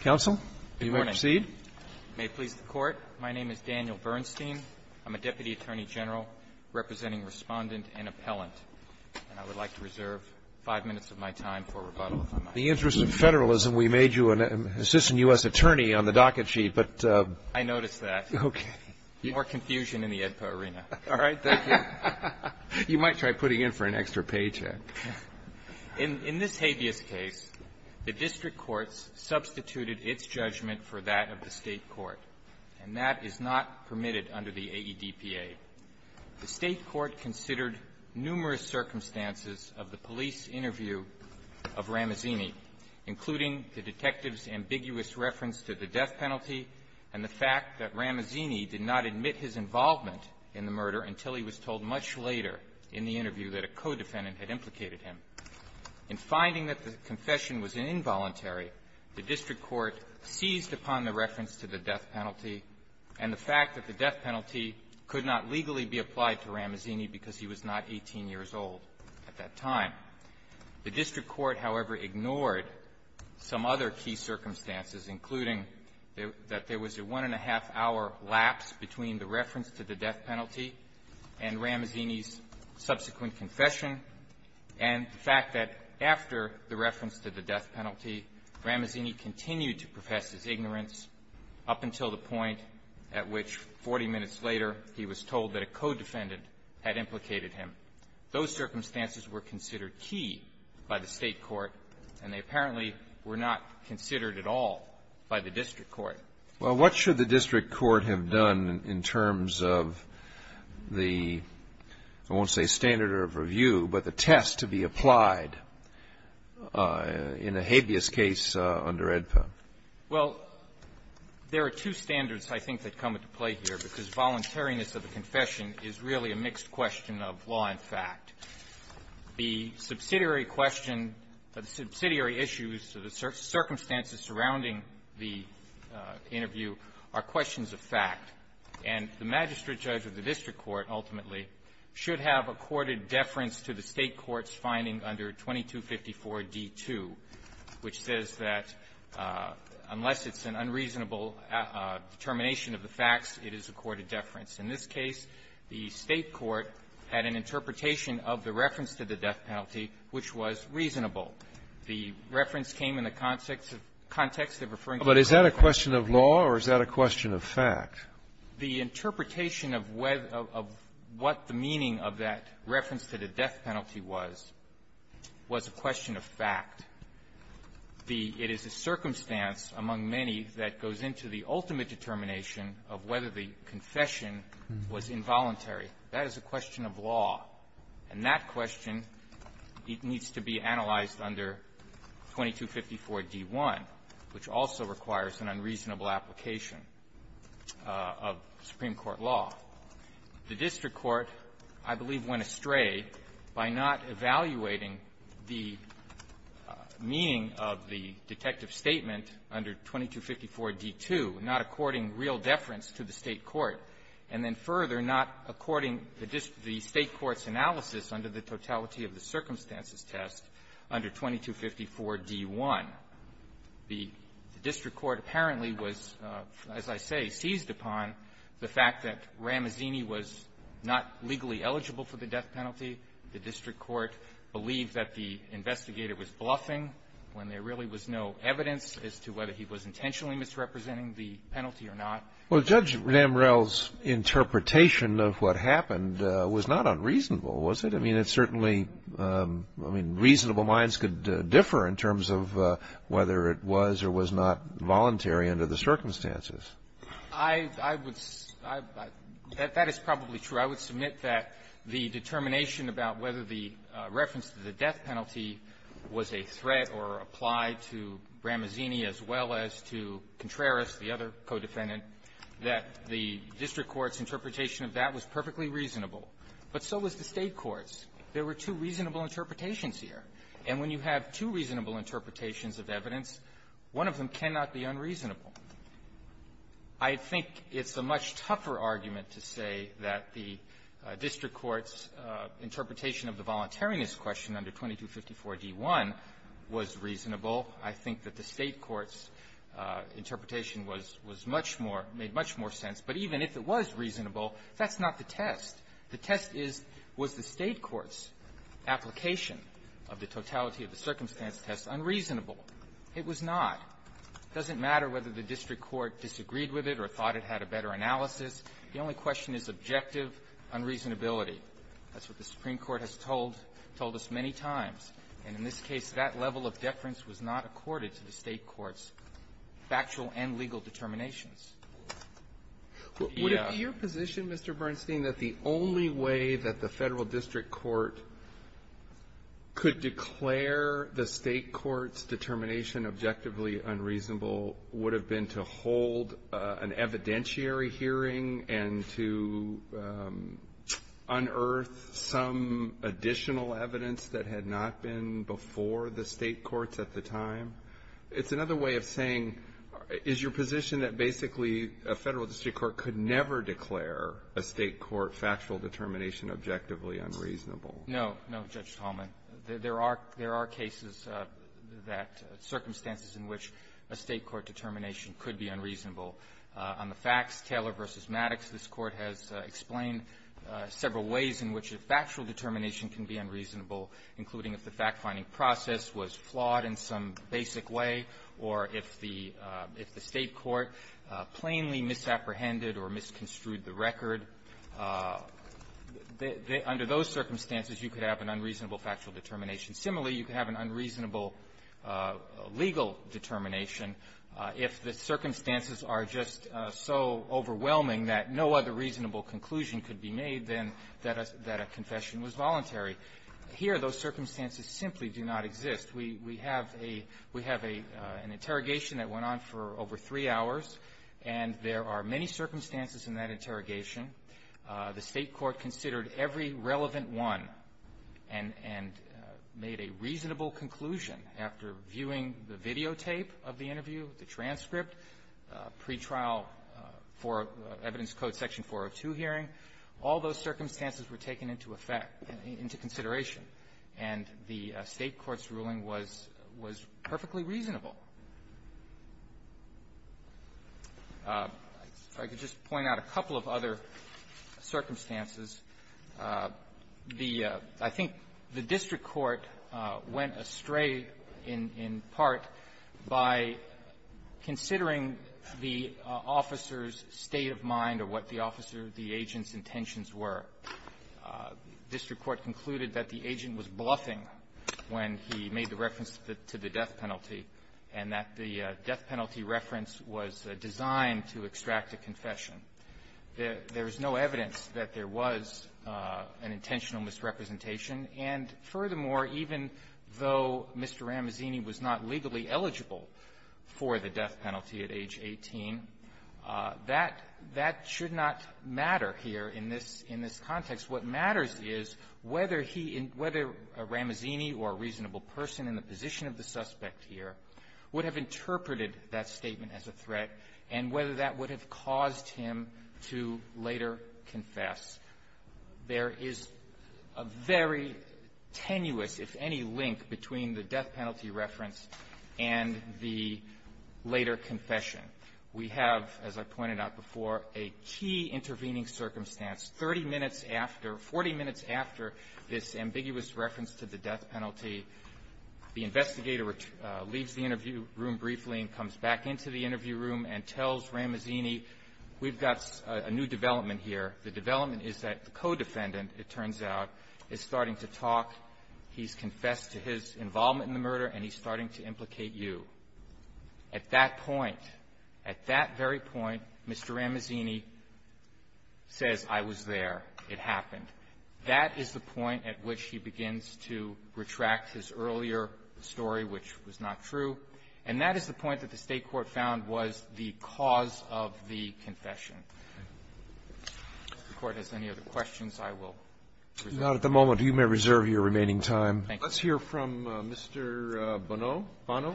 counsel, you may proceed. May please the court. My name is Daniel Bernstein. I'm a Deputy Attorney General representing Respondent and Appellant. And I would like to reserve five minutes of my time for rebuttal. In the interest of federalism, we made you an assistant U.S. attorney on the docket sheet, but I noticed that. Okay. More confusion in the AEDPA arena. All right. Thank you. You might try putting in for an extra paycheck. In this habeas case, the district courts substituted its judgment for that of the State court, and that is not permitted under the AEDPA. The State court considered numerous circumstances of the police interview of Ramazzini, including the detective's ambiguous reference to the death penalty and the fact that Ramazzini did not admit his involvement in the murder until he was told much later in the interview that a co-defendant had implicated him. In finding that the confession was involuntary, the district court seized upon the reference to the death penalty and the fact that the death penalty could not legally be applied to Ramazzini because he was not 18 years old at that time. The district court, however, ignored some other key circumstances, including that there was a one-and-a-half-hour delay in Ramazzini's subsequent confession and the fact that after the reference to the death penalty, Ramazzini continued to profess his ignorance up until the point at which, 40 minutes later, he was told that a co-defendant had implicated him. Those circumstances were considered key by the State court, and they apparently were not considered at all by the district court. Well, what should the district court have done in terms of the, I won't say standard of review, but the test to be applied in a habeas case under AEDPA? Well, there are two standards, I think, that come into play here, because voluntariness of the confession is really a mixed question of law and fact. The subsidiary question, the subsidiary issues, the circumstances surrounding the interview are questions of fact. And the magistrate judge of the district court, ultimately, should have accorded deference to the State court's finding under 2254d2, which says that unless it's an unreasonable determination of the facts, it is accorded deference. In this case, the State court had an interpretation of the reference to the death penalty, which was reasonable. The reference came in the context of the context of referring to the death penalty. But is that a question of law, or is that a question of fact? The interpretation of what the meaning of that reference to the death penalty was, was a question of fact. It is a circumstance among many that goes into the ultimate determination of whether the confession was involuntary. That is a question of law. And that question, it needs to be analyzed under 2254d1, which also requires an unreasonable application of Supreme Court law. The district court, I believe, went astray by not evaluating the meaning of the detective statement under 2254d2, not according real deference to the State court, and then further, not according the State court's analysis under the totality of the circumstances test under 2254d1. The district court apparently was, as I say, seized upon the fact that Ramazzini was not legally eligible for the death penalty. The district court believed that the investigator was bluffing when there really was no evidence as to whether he was intentionally misrepresenting the penalty or not. Well, Judge Ramrell's interpretation of what happened was not unreasonable, was it? I mean, it certainly — I mean, reasonable minds could differ in terms of whether it was or was not voluntary under the circumstances. I would — that is probably true. I would submit that the determination about whether the reference to the death penalty was a threat or applied to Ramazzini as well as to Contreras, the other codefendant, that the district court's interpretation of that was perfectly reasonable. But so was the State court's. There were two reasonable interpretations here. And when you have two reasonable interpretations of evidence, one of them cannot be unreasonable. I think it's a much tougher argument to say that the district court's interpretation of the voluntariness question under 2254d1 was reasonable. I think that the State court's interpretation was — was much more reasonable or made much more sense. But even if it was reasonable, that's not the test. The test is, was the State court's application of the totality of the circumstance test unreasonable? It was not. It doesn't matter whether the district court disagreed with it or thought it had a better analysis. The only question is objective unreasonability. That's what the Supreme Court has told — told us many times. And in this case, that level of deference was not accorded to the State court's factual and legal determinations. Would it be your position, Mr. Bernstein, that the only way that the Federal district court could declare the State court's determination objectively unreasonable would have been to hold an evidentiary hearing and to unearth some additional evidence that had not been before the State courts at the time? It's another way of saying, is your position that basically a Federal district court could never declare a State court factual determination objectively unreasonable? No. No, Judge Talman. There are — there are cases that — circumstances in which a State court determination could be unreasonable. On the facts, Taylor v. Maddox, this Court has explained several ways in which a factual determination can be unreasonable, including if the fact-finding process was flawed in some basic way, or if the — if the State court plainly misapprehended or misconstrued the record. Under those circumstances, you could have an unreasonable factual determination. Similarly, you could have an unreasonable legal determination if the circumstances are just so overwhelming that no other reasonable conclusion could be made, then that a — that a confession was voluntary. Here, those circumstances simply do not exist. We — we have a — we have an interrogation that went on for over three hours, and there are many circumstances in that interrogation. The State court considered every relevant one and — and made a reasonable conclusion after viewing the videotape of the interview, the transcript, pretrial for evidence code section 402 hearing. All those circumstances were taken into effect — into consideration. And the State court's ruling was — was perfectly reasonable. If I could just point out a couple of other circumstances. The — I think the district court went astray in — in part by considering the officer's state of mind or what the officer, the agent's intentions were. The district court concluded that the agent was bluffing when he made the reference to the death penalty, and that the death penalty reference was designed to extract a confession. There is no evidence that there was an intentional misrepresentation. And furthermore, even though Mr. Ramazzini was not legally eligible for the death penalty at age 18, that — that should not matter here in this — in this case. In the context, what matters is whether he — whether a Ramazzini or a reasonable person in the position of the suspect here would have interpreted that statement as a threat and whether that would have caused him to later confess. There is a very tenuous, if any, link between the death penalty reference and the later confession. We have, as I pointed out before, a key intervening circumstance, 30 minutes after — 40 minutes after this ambiguous reference to the death penalty, the investigator leaves the interview room briefly and comes back into the interview room and tells Ramazzini, we've got a new development here. The development is that the co-defendant, it turns out, is starting to talk. He's confessed to his involvement in the murder, and he's starting to implicate you. At that point, at that very point, Mr. Ramazzini says, I was there. It happened. That is the point at which he begins to retract his earlier story, which was not true. And that is the point that the State court found was the cause of the confession. If the Court has any other questions, I will reserve the rest of my time. Roberts. Not at the moment. You may reserve your remaining time. Let's hear from Mr. Bonneau. Bonneau.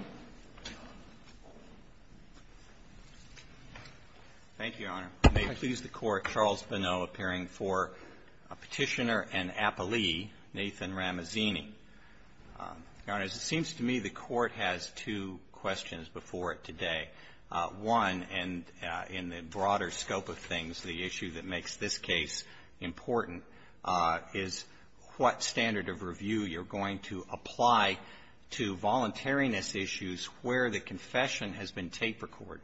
Thank you, Your Honor. I may please the Court. Charles Bonneau appearing for Petitioner and Appellee, Nathan Ramazzini. Your Honors, it seems to me the Court has two questions before it today. One, and in the broader scope of things, the issue that makes this case important is what standard of review you're going to apply to voluntariness issues where the confession has been tape-recorded.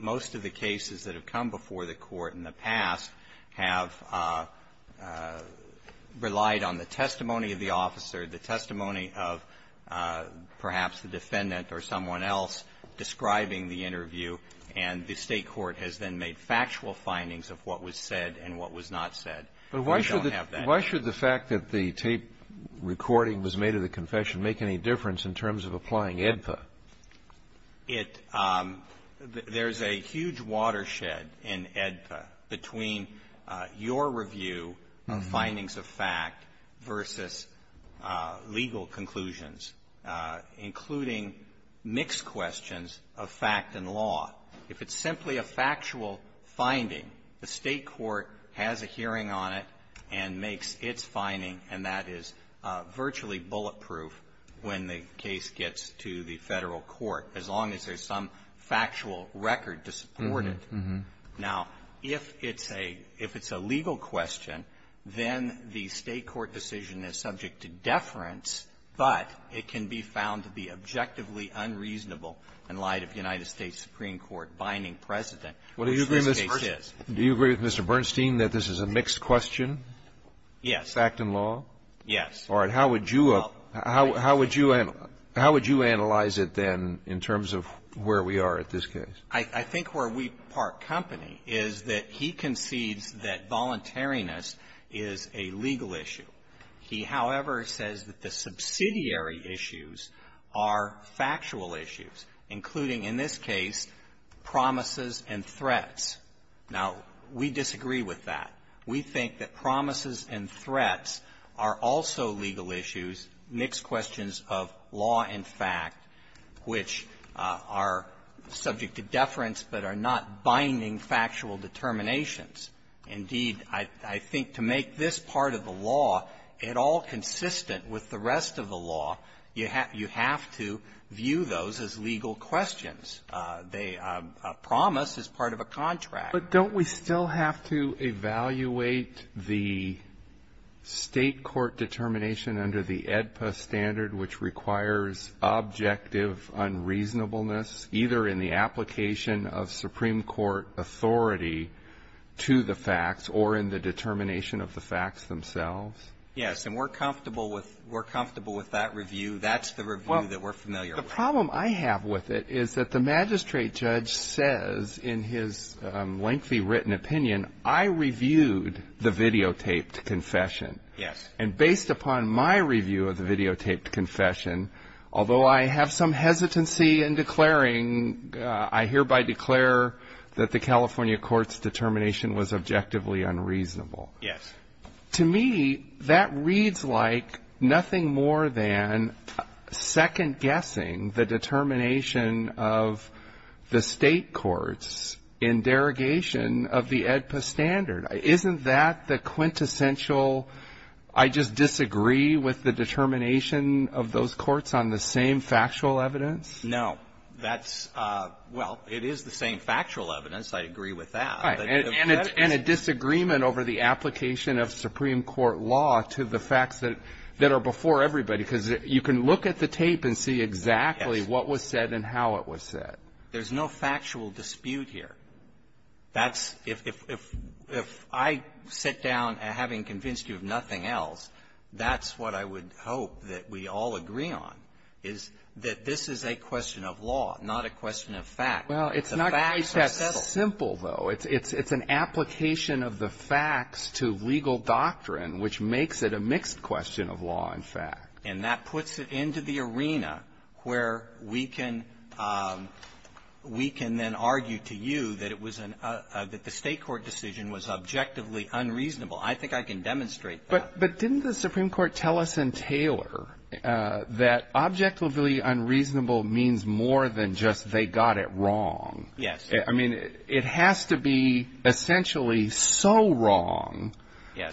Most of the cases that have come before the Court in the past have relied on the testimony of the officer, the testimony of perhaps the defendant or someone else describing the interview, and the State court has then made factual findings of what was said and what was not said. We don't have that here. But why should the fact that the tape recording was made of the confession make any difference in terms of applying AEDPA? It — there's a huge watershed in AEDPA between your review of findings of fact versus legal conclusions, including mixed questions of fact and law. If it's simply a factual finding, the State court has a hearing on it and makes its finding, and that is virtually bulletproof when the case gets to the Federal Court, as long as there's some factual record to support it. Now, if it's a — if it's a legal question, then the State court decision is subject to deference, but it can be found to be objectively unreasonable in light of United States Supreme Court binding precedent, which this case is. Do you agree, Mr. Bernstein, that this is a mixed question? Yes. Fact and law? Yes. All right. How would you — how would you analyze it, then, in terms of where we are at this case? I think where we part company is that he concedes that voluntariness is a legal issue. He, however, says that the subsidiary issues are factual issues, including, in this case, promises and threats. Now, we disagree with that. We think that promises and threats are also legal issues, mixed questions of law and fact, which are subject to deference but are not binding factual determinations. Indeed, I think to make this part of the law at all consistent with the rest of the documents, they — a promise is part of a contract. But don't we still have to evaluate the State court determination under the AEDPA standard, which requires objective unreasonableness, either in the application of Supreme Court authority to the facts or in the determination of the facts themselves? Yes. And we're comfortable with — we're comfortable with that review. That's the review that we're familiar with. The problem I have with it is that the magistrate judge says in his lengthy written opinion, I reviewed the videotaped confession. Yes. And based upon my review of the videotaped confession, although I have some hesitancy in declaring — I hereby declare that the California court's determination was objectively unreasonable. Yes. To me, that reads like nothing more than second-guessing the determination of the State courts in derogation of the AEDPA standard. Isn't that the quintessential, I just disagree with the determination of those courts on the same factual evidence? No. That's — well, it is the same factual evidence. I agree with that. And a disagreement over the application of Supreme Court law to the facts that are before everybody, because you can look at the tape and see exactly what was said and how it was said. There's no factual dispute here. That's — if I sit down, having convinced you of nothing else, that's what I would hope that we all agree on, is that this is a question of law, not a question of fact. Well, it's not just that simple, though. It's an application of the facts to legal doctrine, which makes it a mixed question of law and fact. And that puts it into the arena where we can — we can then argue to you that it was an — that the State court decision was objectively unreasonable. I think I can demonstrate that. But didn't the Supreme Court tell us in Taylor that objectively unreasonable means more than just they got it wrong? Yes. I mean, it has to be essentially so wrong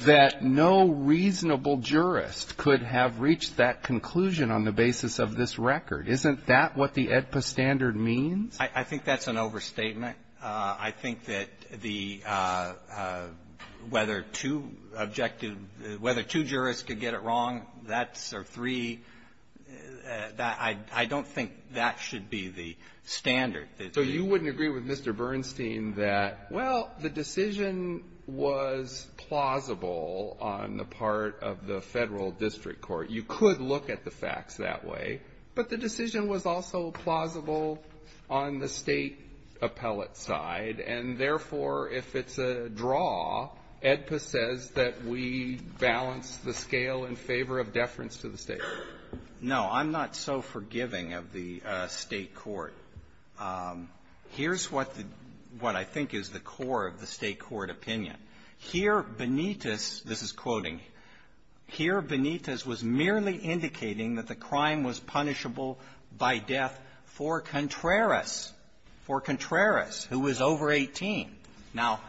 that no reasonable jurist could have reached that conclusion on the basis of this record. Isn't that what the AEDPA standard means? I think that's an overstatement. I think that the — whether two objective — whether two jurists could get it wrong, that's — or three, I don't think that should be the standard. So you wouldn't agree with Mr. Bernstein that, well, the decision was plausible on the part of the Federal district court. You could look at the facts that way. But the decision was also plausible on the State appellate side. And therefore, if it's a draw, AEDPA says that we balance the scale in favor of deference to the State court. No. I'm not so forgiving of the State court. Here's what the — what I think is the core of the State court opinion. Here, Benitez — this is quoting — here, Benitez was merely indicating that the crime was punishable by death for Contreras, for Contreras, who was over 18. Now,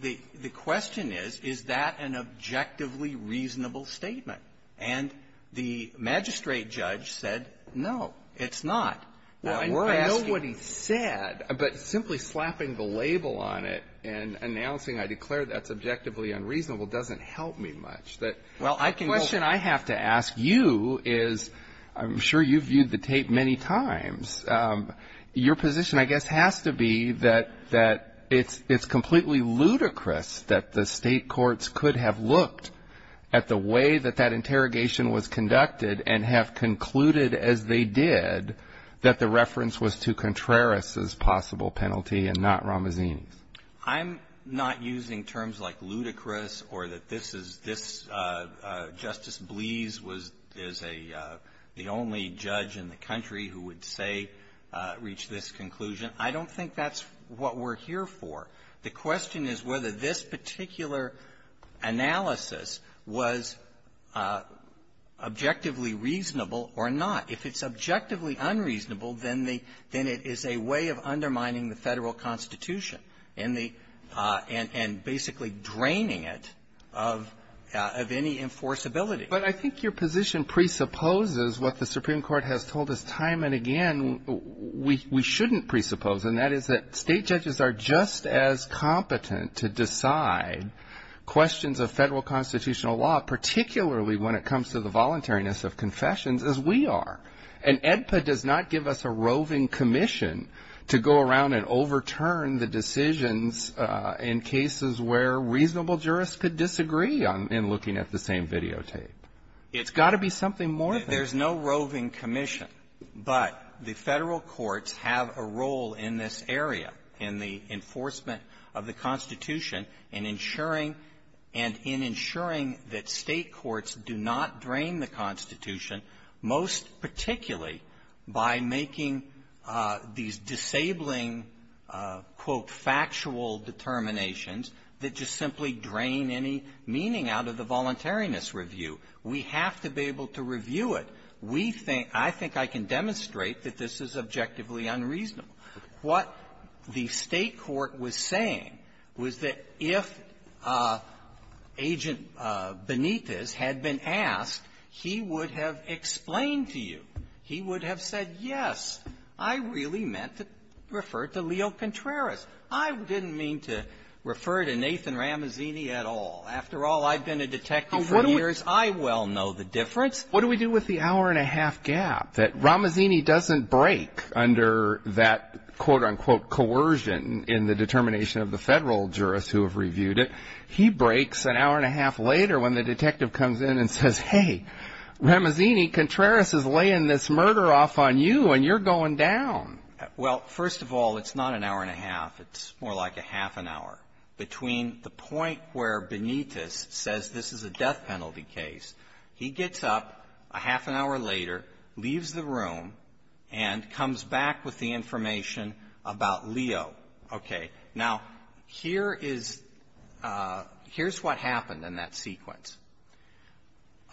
the question is, is that an objectively reasonable statement? And the magistrate judge said, no, it's not. And we're asking — Well, I know what he said, but simply slapping the label on it and announcing I declare that subjectively unreasonable doesn't help me much. That — Well, I can go — The question I have to ask you is — I'm sure you've viewed the tape many times. Your position, I guess, has to be that — that it's — it's completely ludicrous that the State courts could have looked at the way that that interrogation was conducted and have concluded, as they did, that the reference was to Contreras' possible penalty and not Ramazzini's. I'm not using terms like ludicrous or that this is — this — Justice Bleas was — is a — the only judge in the country who would say — reach this conclusion. I don't think that's what we're here for. The question is whether this particular analysis was objectively reasonable or not. If it's objectively unreasonable, then the — then it is a way of undermining the Federal Constitution and the — and basically draining it of — of any enforceability. But I think your position presupposes what the Supreme Court has told us time and again we — we shouldn't presuppose, and that is that State judges are just as competent to decide questions of Federal constitutional law, particularly when it comes to the voluntariness of confessions as we are. And AEDPA does not give us a roving commission to go around and overturn the decisions in cases where reasonable jurists could disagree on — in looking at the same videotape. It's got to be something more than — But the Federal courts have a role in this area, in the enforcement of the Constitution, in ensuring — and in ensuring that State courts do not drain the Constitution, most particularly by making these disabling, quote, factual determinations that just simply drain any meaning out of the voluntariness review. We have to be able to review it. We think — I think I can demonstrate that this is objectively unreasonable. What the State court was saying was that if Agent Benitez had been asked, he would have explained to you. He would have said, yes, I really meant to refer to Leo Contreras. I didn't mean to refer to Nathan Ramazzini at all. After all, I've been a detective for years. I well know the difference. What do we do with the hour-and-a-half gap that Ramazzini doesn't break under that, quote-unquote, coercion in the determination of the Federal jurists who have reviewed it? He breaks an hour-and-a-half later when the detective comes in and says, hey, Ramazzini, Contreras is laying this murder off on you, and you're going down. Well, first of all, it's not an hour-and-a-half. It's more like a half an hour. Between the point where Benitez says this is a death penalty case, he gets up a half an hour later, leaves the room, and comes back with the information about Leo. Okay. Now, here is what happened in that sequence.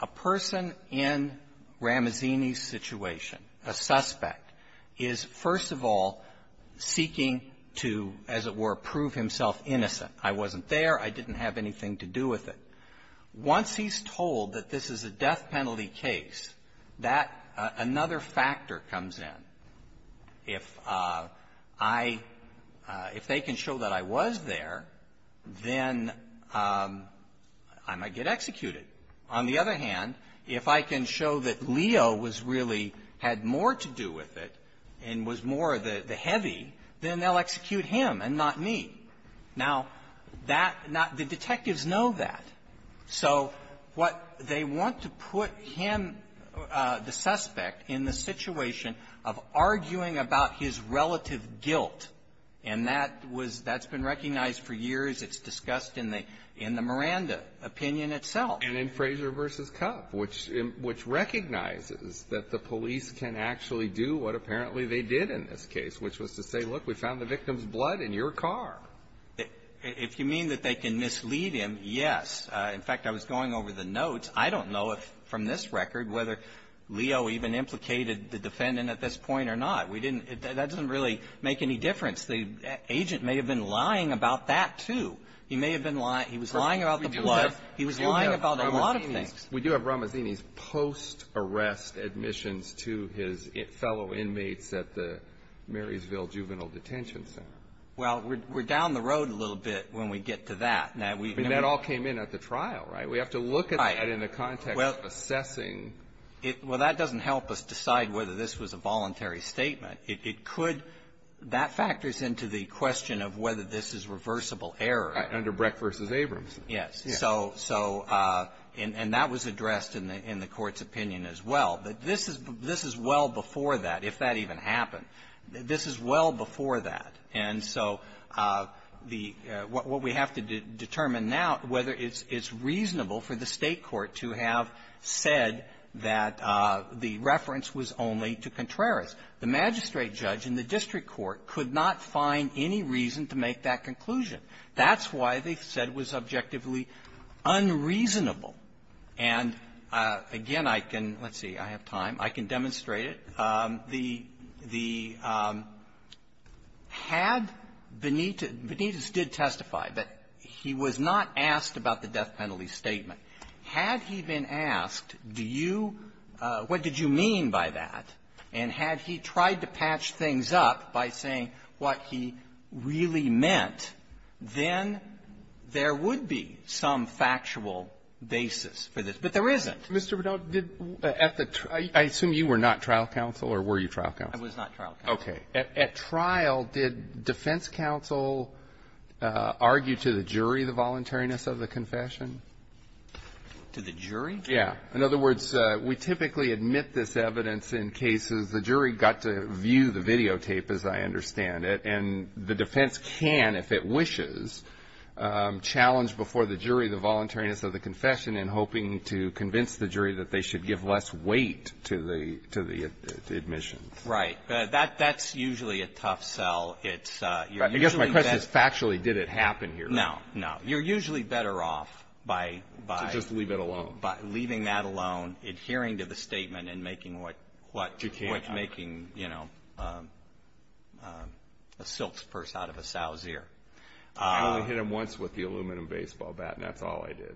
A person in Ramazzini's situation, a suspect, is, first of all, seeking to, as it were, prove himself innocent. I wasn't there. I didn't have anything to do with it. Once he's told that this is a death penalty case, that another factor comes in. If I – if they can show that I was there, then I might get executed. On the other hand, if I can show that Leo was really – had more to do with it and was more the heavy, then they'll execute him and not me. Now, that – the detectives know that. So what – they want to put him, the suspect, in the situation of arguing about his relative guilt. And that was – that's been recognized for years. It's discussed in the – in the Miranda opinion itself. And in Frazier v. Cuff, which – which recognizes that the police can actually do what apparently they did in this case, which was to say, look, we found the victim's blood in your car. If you mean that they can mislead him, yes. In fact, I was going over the notes. I don't know if, from this record, whether Leo even implicated the defendant at this point or not. We didn't – that doesn't really make any difference. The agent may have been lying about that, too. He may have been – he was lying about the blood. He was lying about a lot of things. We do have Ramazzini's post-arrest admissions to his fellow inmates at the Marysville Juvenile Detention Center. Well, we're – we're down the road a little bit when we get to that. Now, we – I mean, that all came in at the trial, right? We have to look at that in the context of assessing. Well, that doesn't help us decide whether this was a voluntary statement. It could – that factors into the question of whether this is reversible error. Under Breck v. Abrams. Yes. So – so – and that was addressed in the – in the Court's opinion as well. But this is – this is well before that, if that even happened. This is well before that. And so the – what we have to determine now, whether it's reasonable for the State court to have said that the reference was only to Contreras. The magistrate judge in the district court could not find any reason to make that conclusion. That's why they said it was objectively unreasonable. And, again, I can – let's see. I have time. I can demonstrate it. The – the – had Benitez – Benitez did testify, but he was not asked about the death penalty statement. Had he been asked, do you – what did you mean by that? And had he tried to patch things up by saying what he really meant, then there would be some factual basis for this. But there isn't. Mr. Bernal, did – at the – I assume you were not trial counsel, or were you trial counsel? I was not trial counsel. Okay. At trial, did defense counsel argue to the jury the voluntariness of the confession? To the jury? Yeah. In other words, we typically admit this evidence in cases. The jury got to view the videotape, as I understand it. And the defense can, if it wishes, challenge before the jury the voluntariness of the confession in hoping to convince the jury that they should give less weight to the – to the admission. Right. That – that's usually a tough sell. It's – you're usually better – I guess my question is, factually, did it happen here? No. No. You're usually better off by – by – To just leave it alone. By leaving that alone, adhering to the statement, and making what – what – You can't. What's making, you know, a silk's purse out of a sow's ear. I only hit him once with the aluminum baseball bat, and that's all I did.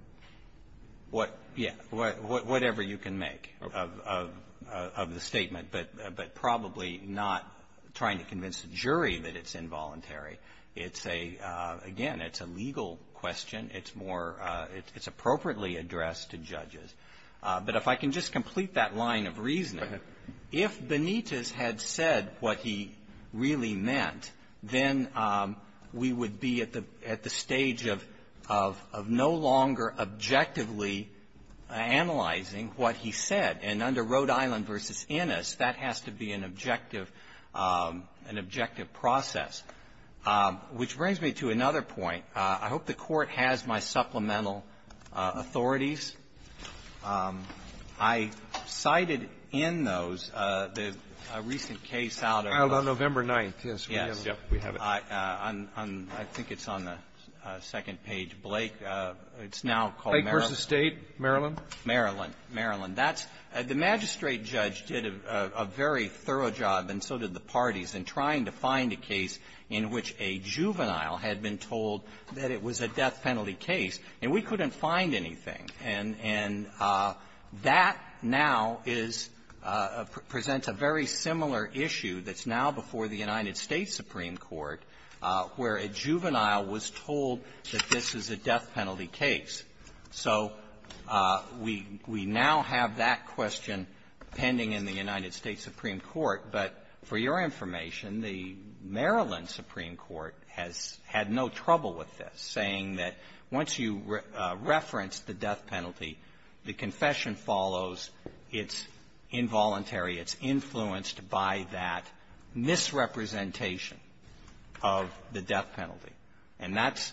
What – yeah. Whatever you can make of – of the statement. But – but probably not trying to convince the jury that it's involuntary. It's a – again, it's a legal question. It's more – it's appropriately addressed to judges. But if I can just complete that line of reasoning, if Benitez had said what he really meant, then we would be at the – at the stage of – of no longer objectively analyzing what he said. And under Rhode Island v. Innis, that has to be an objective – an objective process. Which brings me to another point. I hope the Court has my supplemental authorities. I cited in those the recent case out of the – Out on November 9th. Yes. Yes. We have it. I – I think it's on the second page. Blake – it's now called Maryland. Blake v. State, Maryland. Maryland. Maryland. That's – the magistrate judge did a very thorough job, and so did the parties, in trying to find a case in which a juvenile had been told that it was a death penalty case. And we couldn't find anything. And – and that now is – presents a very similar issue that's now before the United States Supreme Court, where a juvenile was told that this is a death penalty case. So we – we now have that question pending in the United States Supreme Court. But for your information, the Maryland Supreme Court has had no trouble with this, saying that once you reference the death penalty, the confession follows its involuntary – its influence by that misrepresentation of the death penalty. And that's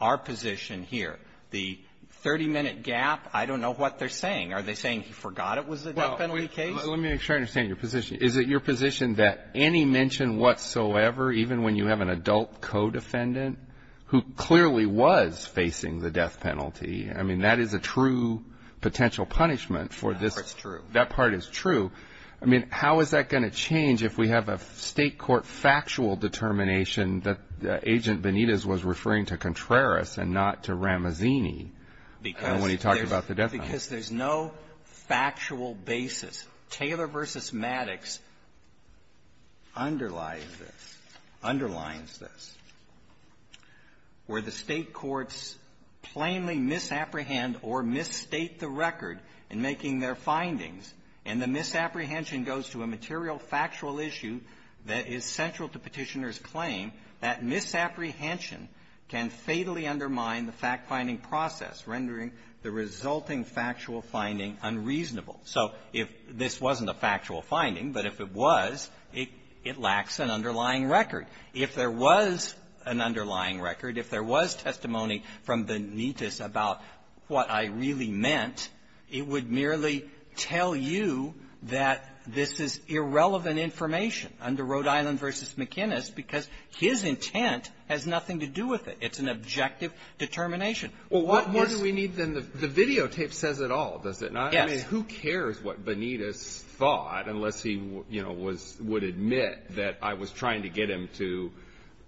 our position here. The 30-minute gap, I don't know what they're saying. Are they saying he forgot it was a death penalty case? Well, let me try to understand your position. Is it your position that any mention whatsoever, even when you have an adult co-defendant who clearly was facing the death penalty, I mean, that is a true potential punishment for this – That part's true. That part is true. I mean, how is that going to change if we have a State court factual determination that Agent Benitez was referring to Contreras and not to Ramazzini when he talked about the death penalty? Because there's no factual basis. Taylor v. Maddox underlies this, underlines this. Where the State courts plainly misapprehend or misstate the record in making their findings, and the misapprehension goes to a material factual issue that is central to Petitioner's claim, that misapprehension can fatally undermine the fact-finding process, rendering the resulting factual finding unreasonable. So if this wasn't a factual finding, but if it was, it lacks an underlying record. If there was an underlying record, if there was testimony from Benitez about what I really meant, it would merely tell you that this is irrelevant information under Rhode Island v. McInnis because his intent has nothing to do with it. It's an objective determination. Well, what more do we need than the videotape says it all, does it not? Yes. I mean, who cares what Benitez thought unless he, you know, was — would admit that I was trying to get him to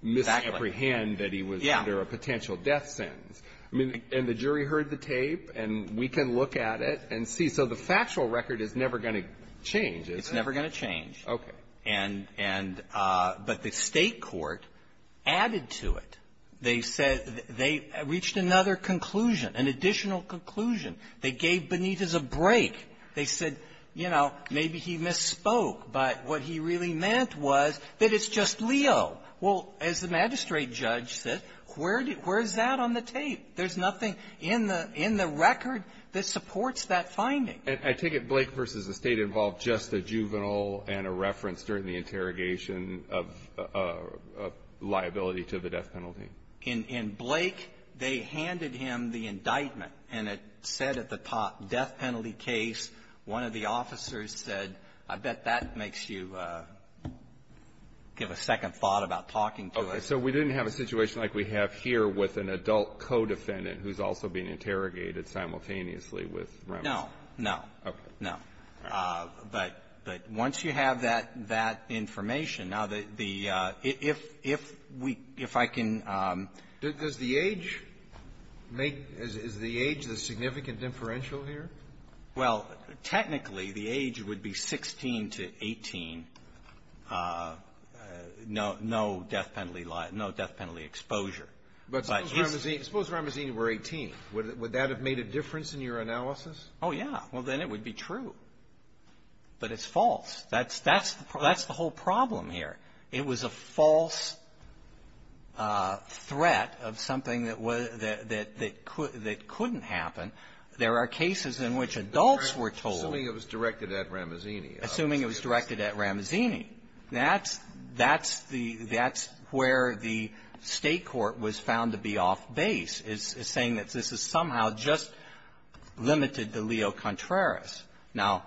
misapprehend that he was under a potential death sentence? I mean, and the jury heard the tape, and we can look at it and see. So the factual record is never going to change, is it? It's never going to change. Okay. And — and — but the State court added to it. They said — they reached another conclusion, an additional conclusion. They gave Benitez a break. They said, you know, maybe he misspoke, but what he really meant was that it's just Leo. Well, as the magistrate judge said, where is that on the tape? There's nothing in the — in the record that supports that finding. I take it Blake v. the State involved just a juvenile and a reference during the In — in Blake, they handed him the indictment, and it said at the top, death penalty case. One of the officers said, I bet that makes you give a second thought about talking to us. Okay. So we didn't have a situation like we have here with an adult co-defendant who's also being interrogated simultaneously with Rems. No. No. Okay. No. All right. But — but once you have that — that information, now, the — the — if — if we — if I can — Does the age make — is the age the significant differential here? Well, technically, the age would be 16 to 18, no — no death penalty — no death penalty exposure. But suppose Ramazzini were 18. Would that have made a difference in your analysis? Oh, yeah. Well, then it would be true. But it's false. That's — that's the whole problem here. It was a false threat of something that was — that — that couldn't happen. There are cases in which adults were told — Assuming it was directed at Ramazzini. Assuming it was directed at Ramazzini. That's — that's the — that's where the State court was found to be off base, is saying that this is somehow just limited to Leo Contreras. Now,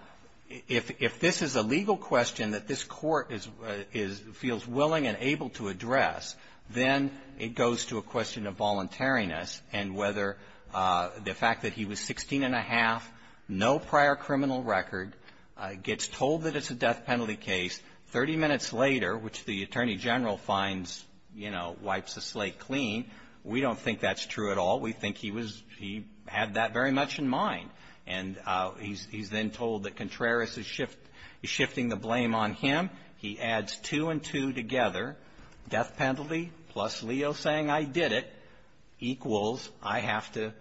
if — if this is a legal question that this court is — is — feels willing and able to address, then it goes to a question of voluntariness and whether the fact that he was 16 and a half, no prior criminal record, gets told that it's a death penalty case, 30 minutes later, which the attorney general finds, you know, wipes the slate clean, we don't think that's true at all. We think he was — he had that very much in mind. And he's — he's then told that Contreras is shift — is shifting the blame on him. He adds two and two together. Death penalty plus Leo saying, I did it, equals I have to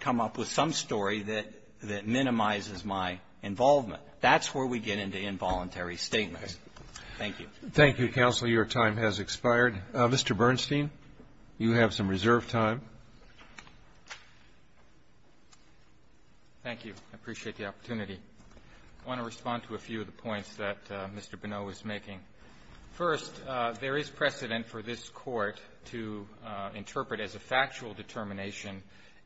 come up with some story that — that minimizes my involvement. That's where we get into involuntary statements. Thank you. Thank you, counsel. Your time has expired. Mr. Bernstein, you have some reserve time. Thank you. I appreciate the opportunity. I want to respond to a few of the points that Mr. Bonneau was making. First, there is precedent for this Court to interpret as a factual determination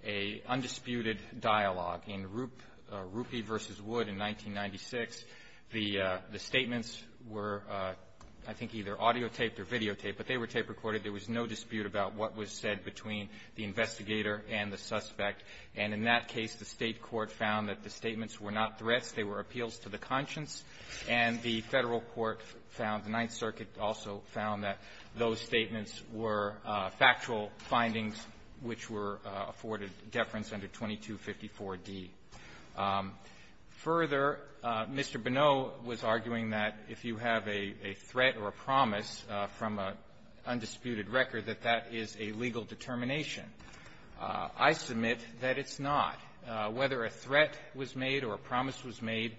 a undisputed dialogue. In Rup — Rupi v. Wood in 1996, the — the statements were, I think, either audiotaped or videotaped, but they were tape-recorded. There was no dispute about what was said between the investigator and the suspect. And in that case, the State court found that the statements were not threats. They were appeals to the conscience. And the Federal court found — the Ninth Circuit also found that those statements were factual findings which were afforded deference under 2254d. Further, Mr. Bonneau was arguing that if you have a — a threat or a promise from an undisputed record, that that is a legal determination. I submit that it's not. Whether a threat was made or a promise was made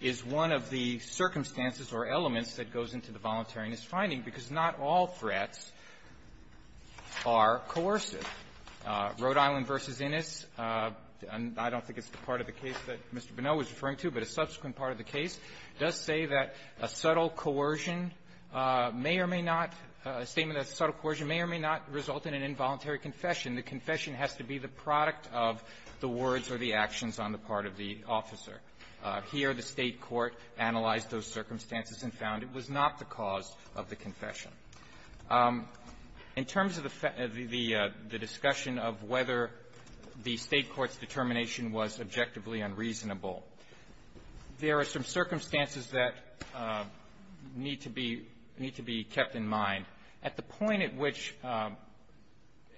is one of the circumstances or elements that goes into the voluntariness finding, because not all threats are coercive. Rhode Island v. Innis, and I don't think it's the part of the case that Mr. Bonneau was referring to, but a subsequent part of the case, does say that a subtle coercion may or may not — a statement of subtle coercion may or may not result in an involuntary confession. The confession has to be the product of the words or the actions on the part of the officer. Here, the State court analyzed those circumstances and found it was not the cause of the confession. In terms of the — the discussion of whether the State court's determination was objectively unreasonable, there are some circumstances that need to be looked at, that need to be kept in mind. At the point at which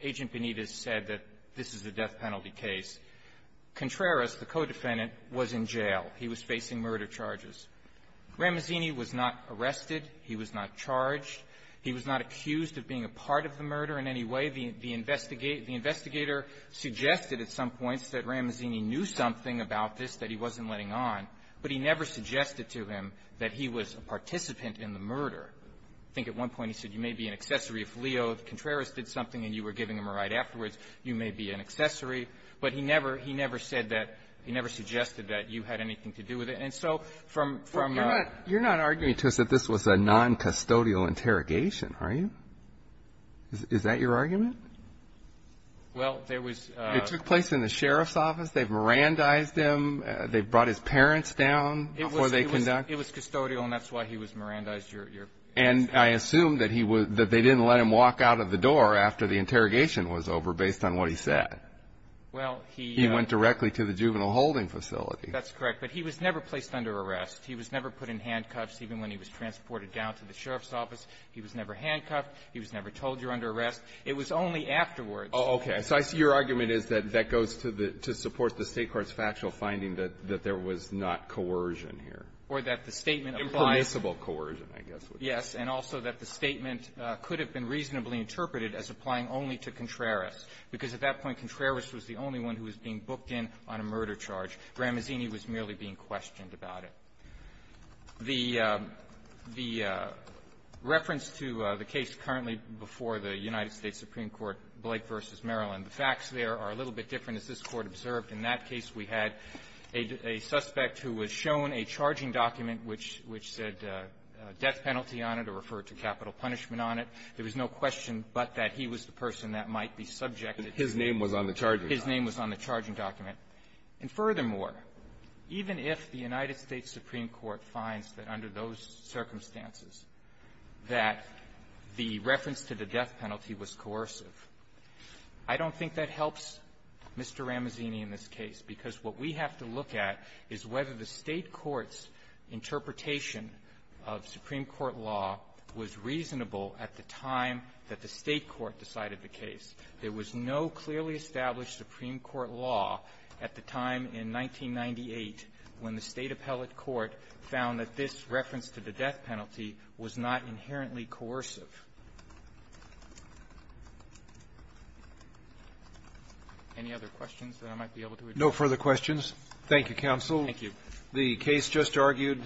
Agent Benitez said that this is a death penalty case, Contreras, the co-defendant, was in jail. He was facing murder charges. Ramazzini was not arrested. He was not charged. He was not accused of being a part of the murder in any way. The investigator suggested at some points that Ramazzini knew something about this that he wasn't letting on, but he never suggested to him that he was a participant in the murder. I think at one point he said, you may be an accessory. If Leo Contreras did something and you were giving him a ride afterwards, you may be an accessory. But he never — he never said that — he never suggested that you had anything to do with it. And so from — from — You're not — you're not arguing to us that this was a noncustodial interrogation, are you? Is that your argument? Well, there was — It took place in the sheriff's office. They've Mirandized him. They brought his parents down before they conducted — It was custodial, and that's why he was Mirandized. Your — And I assume that he was — that they didn't let him walk out of the door after the interrogation was over, based on what he said. Well, he — He went directly to the juvenile holding facility. That's correct. But he was never placed under arrest. He was never put in handcuffs, even when he was transported down to the sheriff's office. He was never handcuffed. He was never told you're under arrest. It was only afterwards. Oh, okay. So I see your argument is that that goes to the — to support the State court's factual finding that — that there was not coercion here. Or that the statement applies — Impermissible coercion, I guess, would be — Yes. And also that the statement could have been reasonably interpreted as applying only to Contreras, because at that point, Contreras was the only one who was being booked in on a murder charge. Gramazzini was merely being questioned about it. The — the reference to the case currently before the United States Supreme Court, Blake v. Maryland, the facts there are a little bit different, as this Court observed. In that case, we had a — a suspect who was shown a charging document which — which said death penalty on it, or referred to capital punishment on it. There was no question but that he was the person that might be subjected to — His name was on the charging document. His name was on the charging document. And furthermore, even if the United States Supreme Court finds that under those circumstances that the reference to the death penalty was coercive, I don't think that helps Mr. Ramazzini in this case, because what we have to look at is whether the State court's interpretation of Supreme Court law was reasonable at the time that the State court decided the case. There was no clearly established Supreme Court law at the time in 1998 when the State appellate court found that this reference to the death penalty was not inherently coercive. Any other questions that I might be able to address? No further questions. Thank you, counsel. Thank you. The case just argued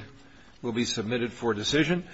will be submitted for decision.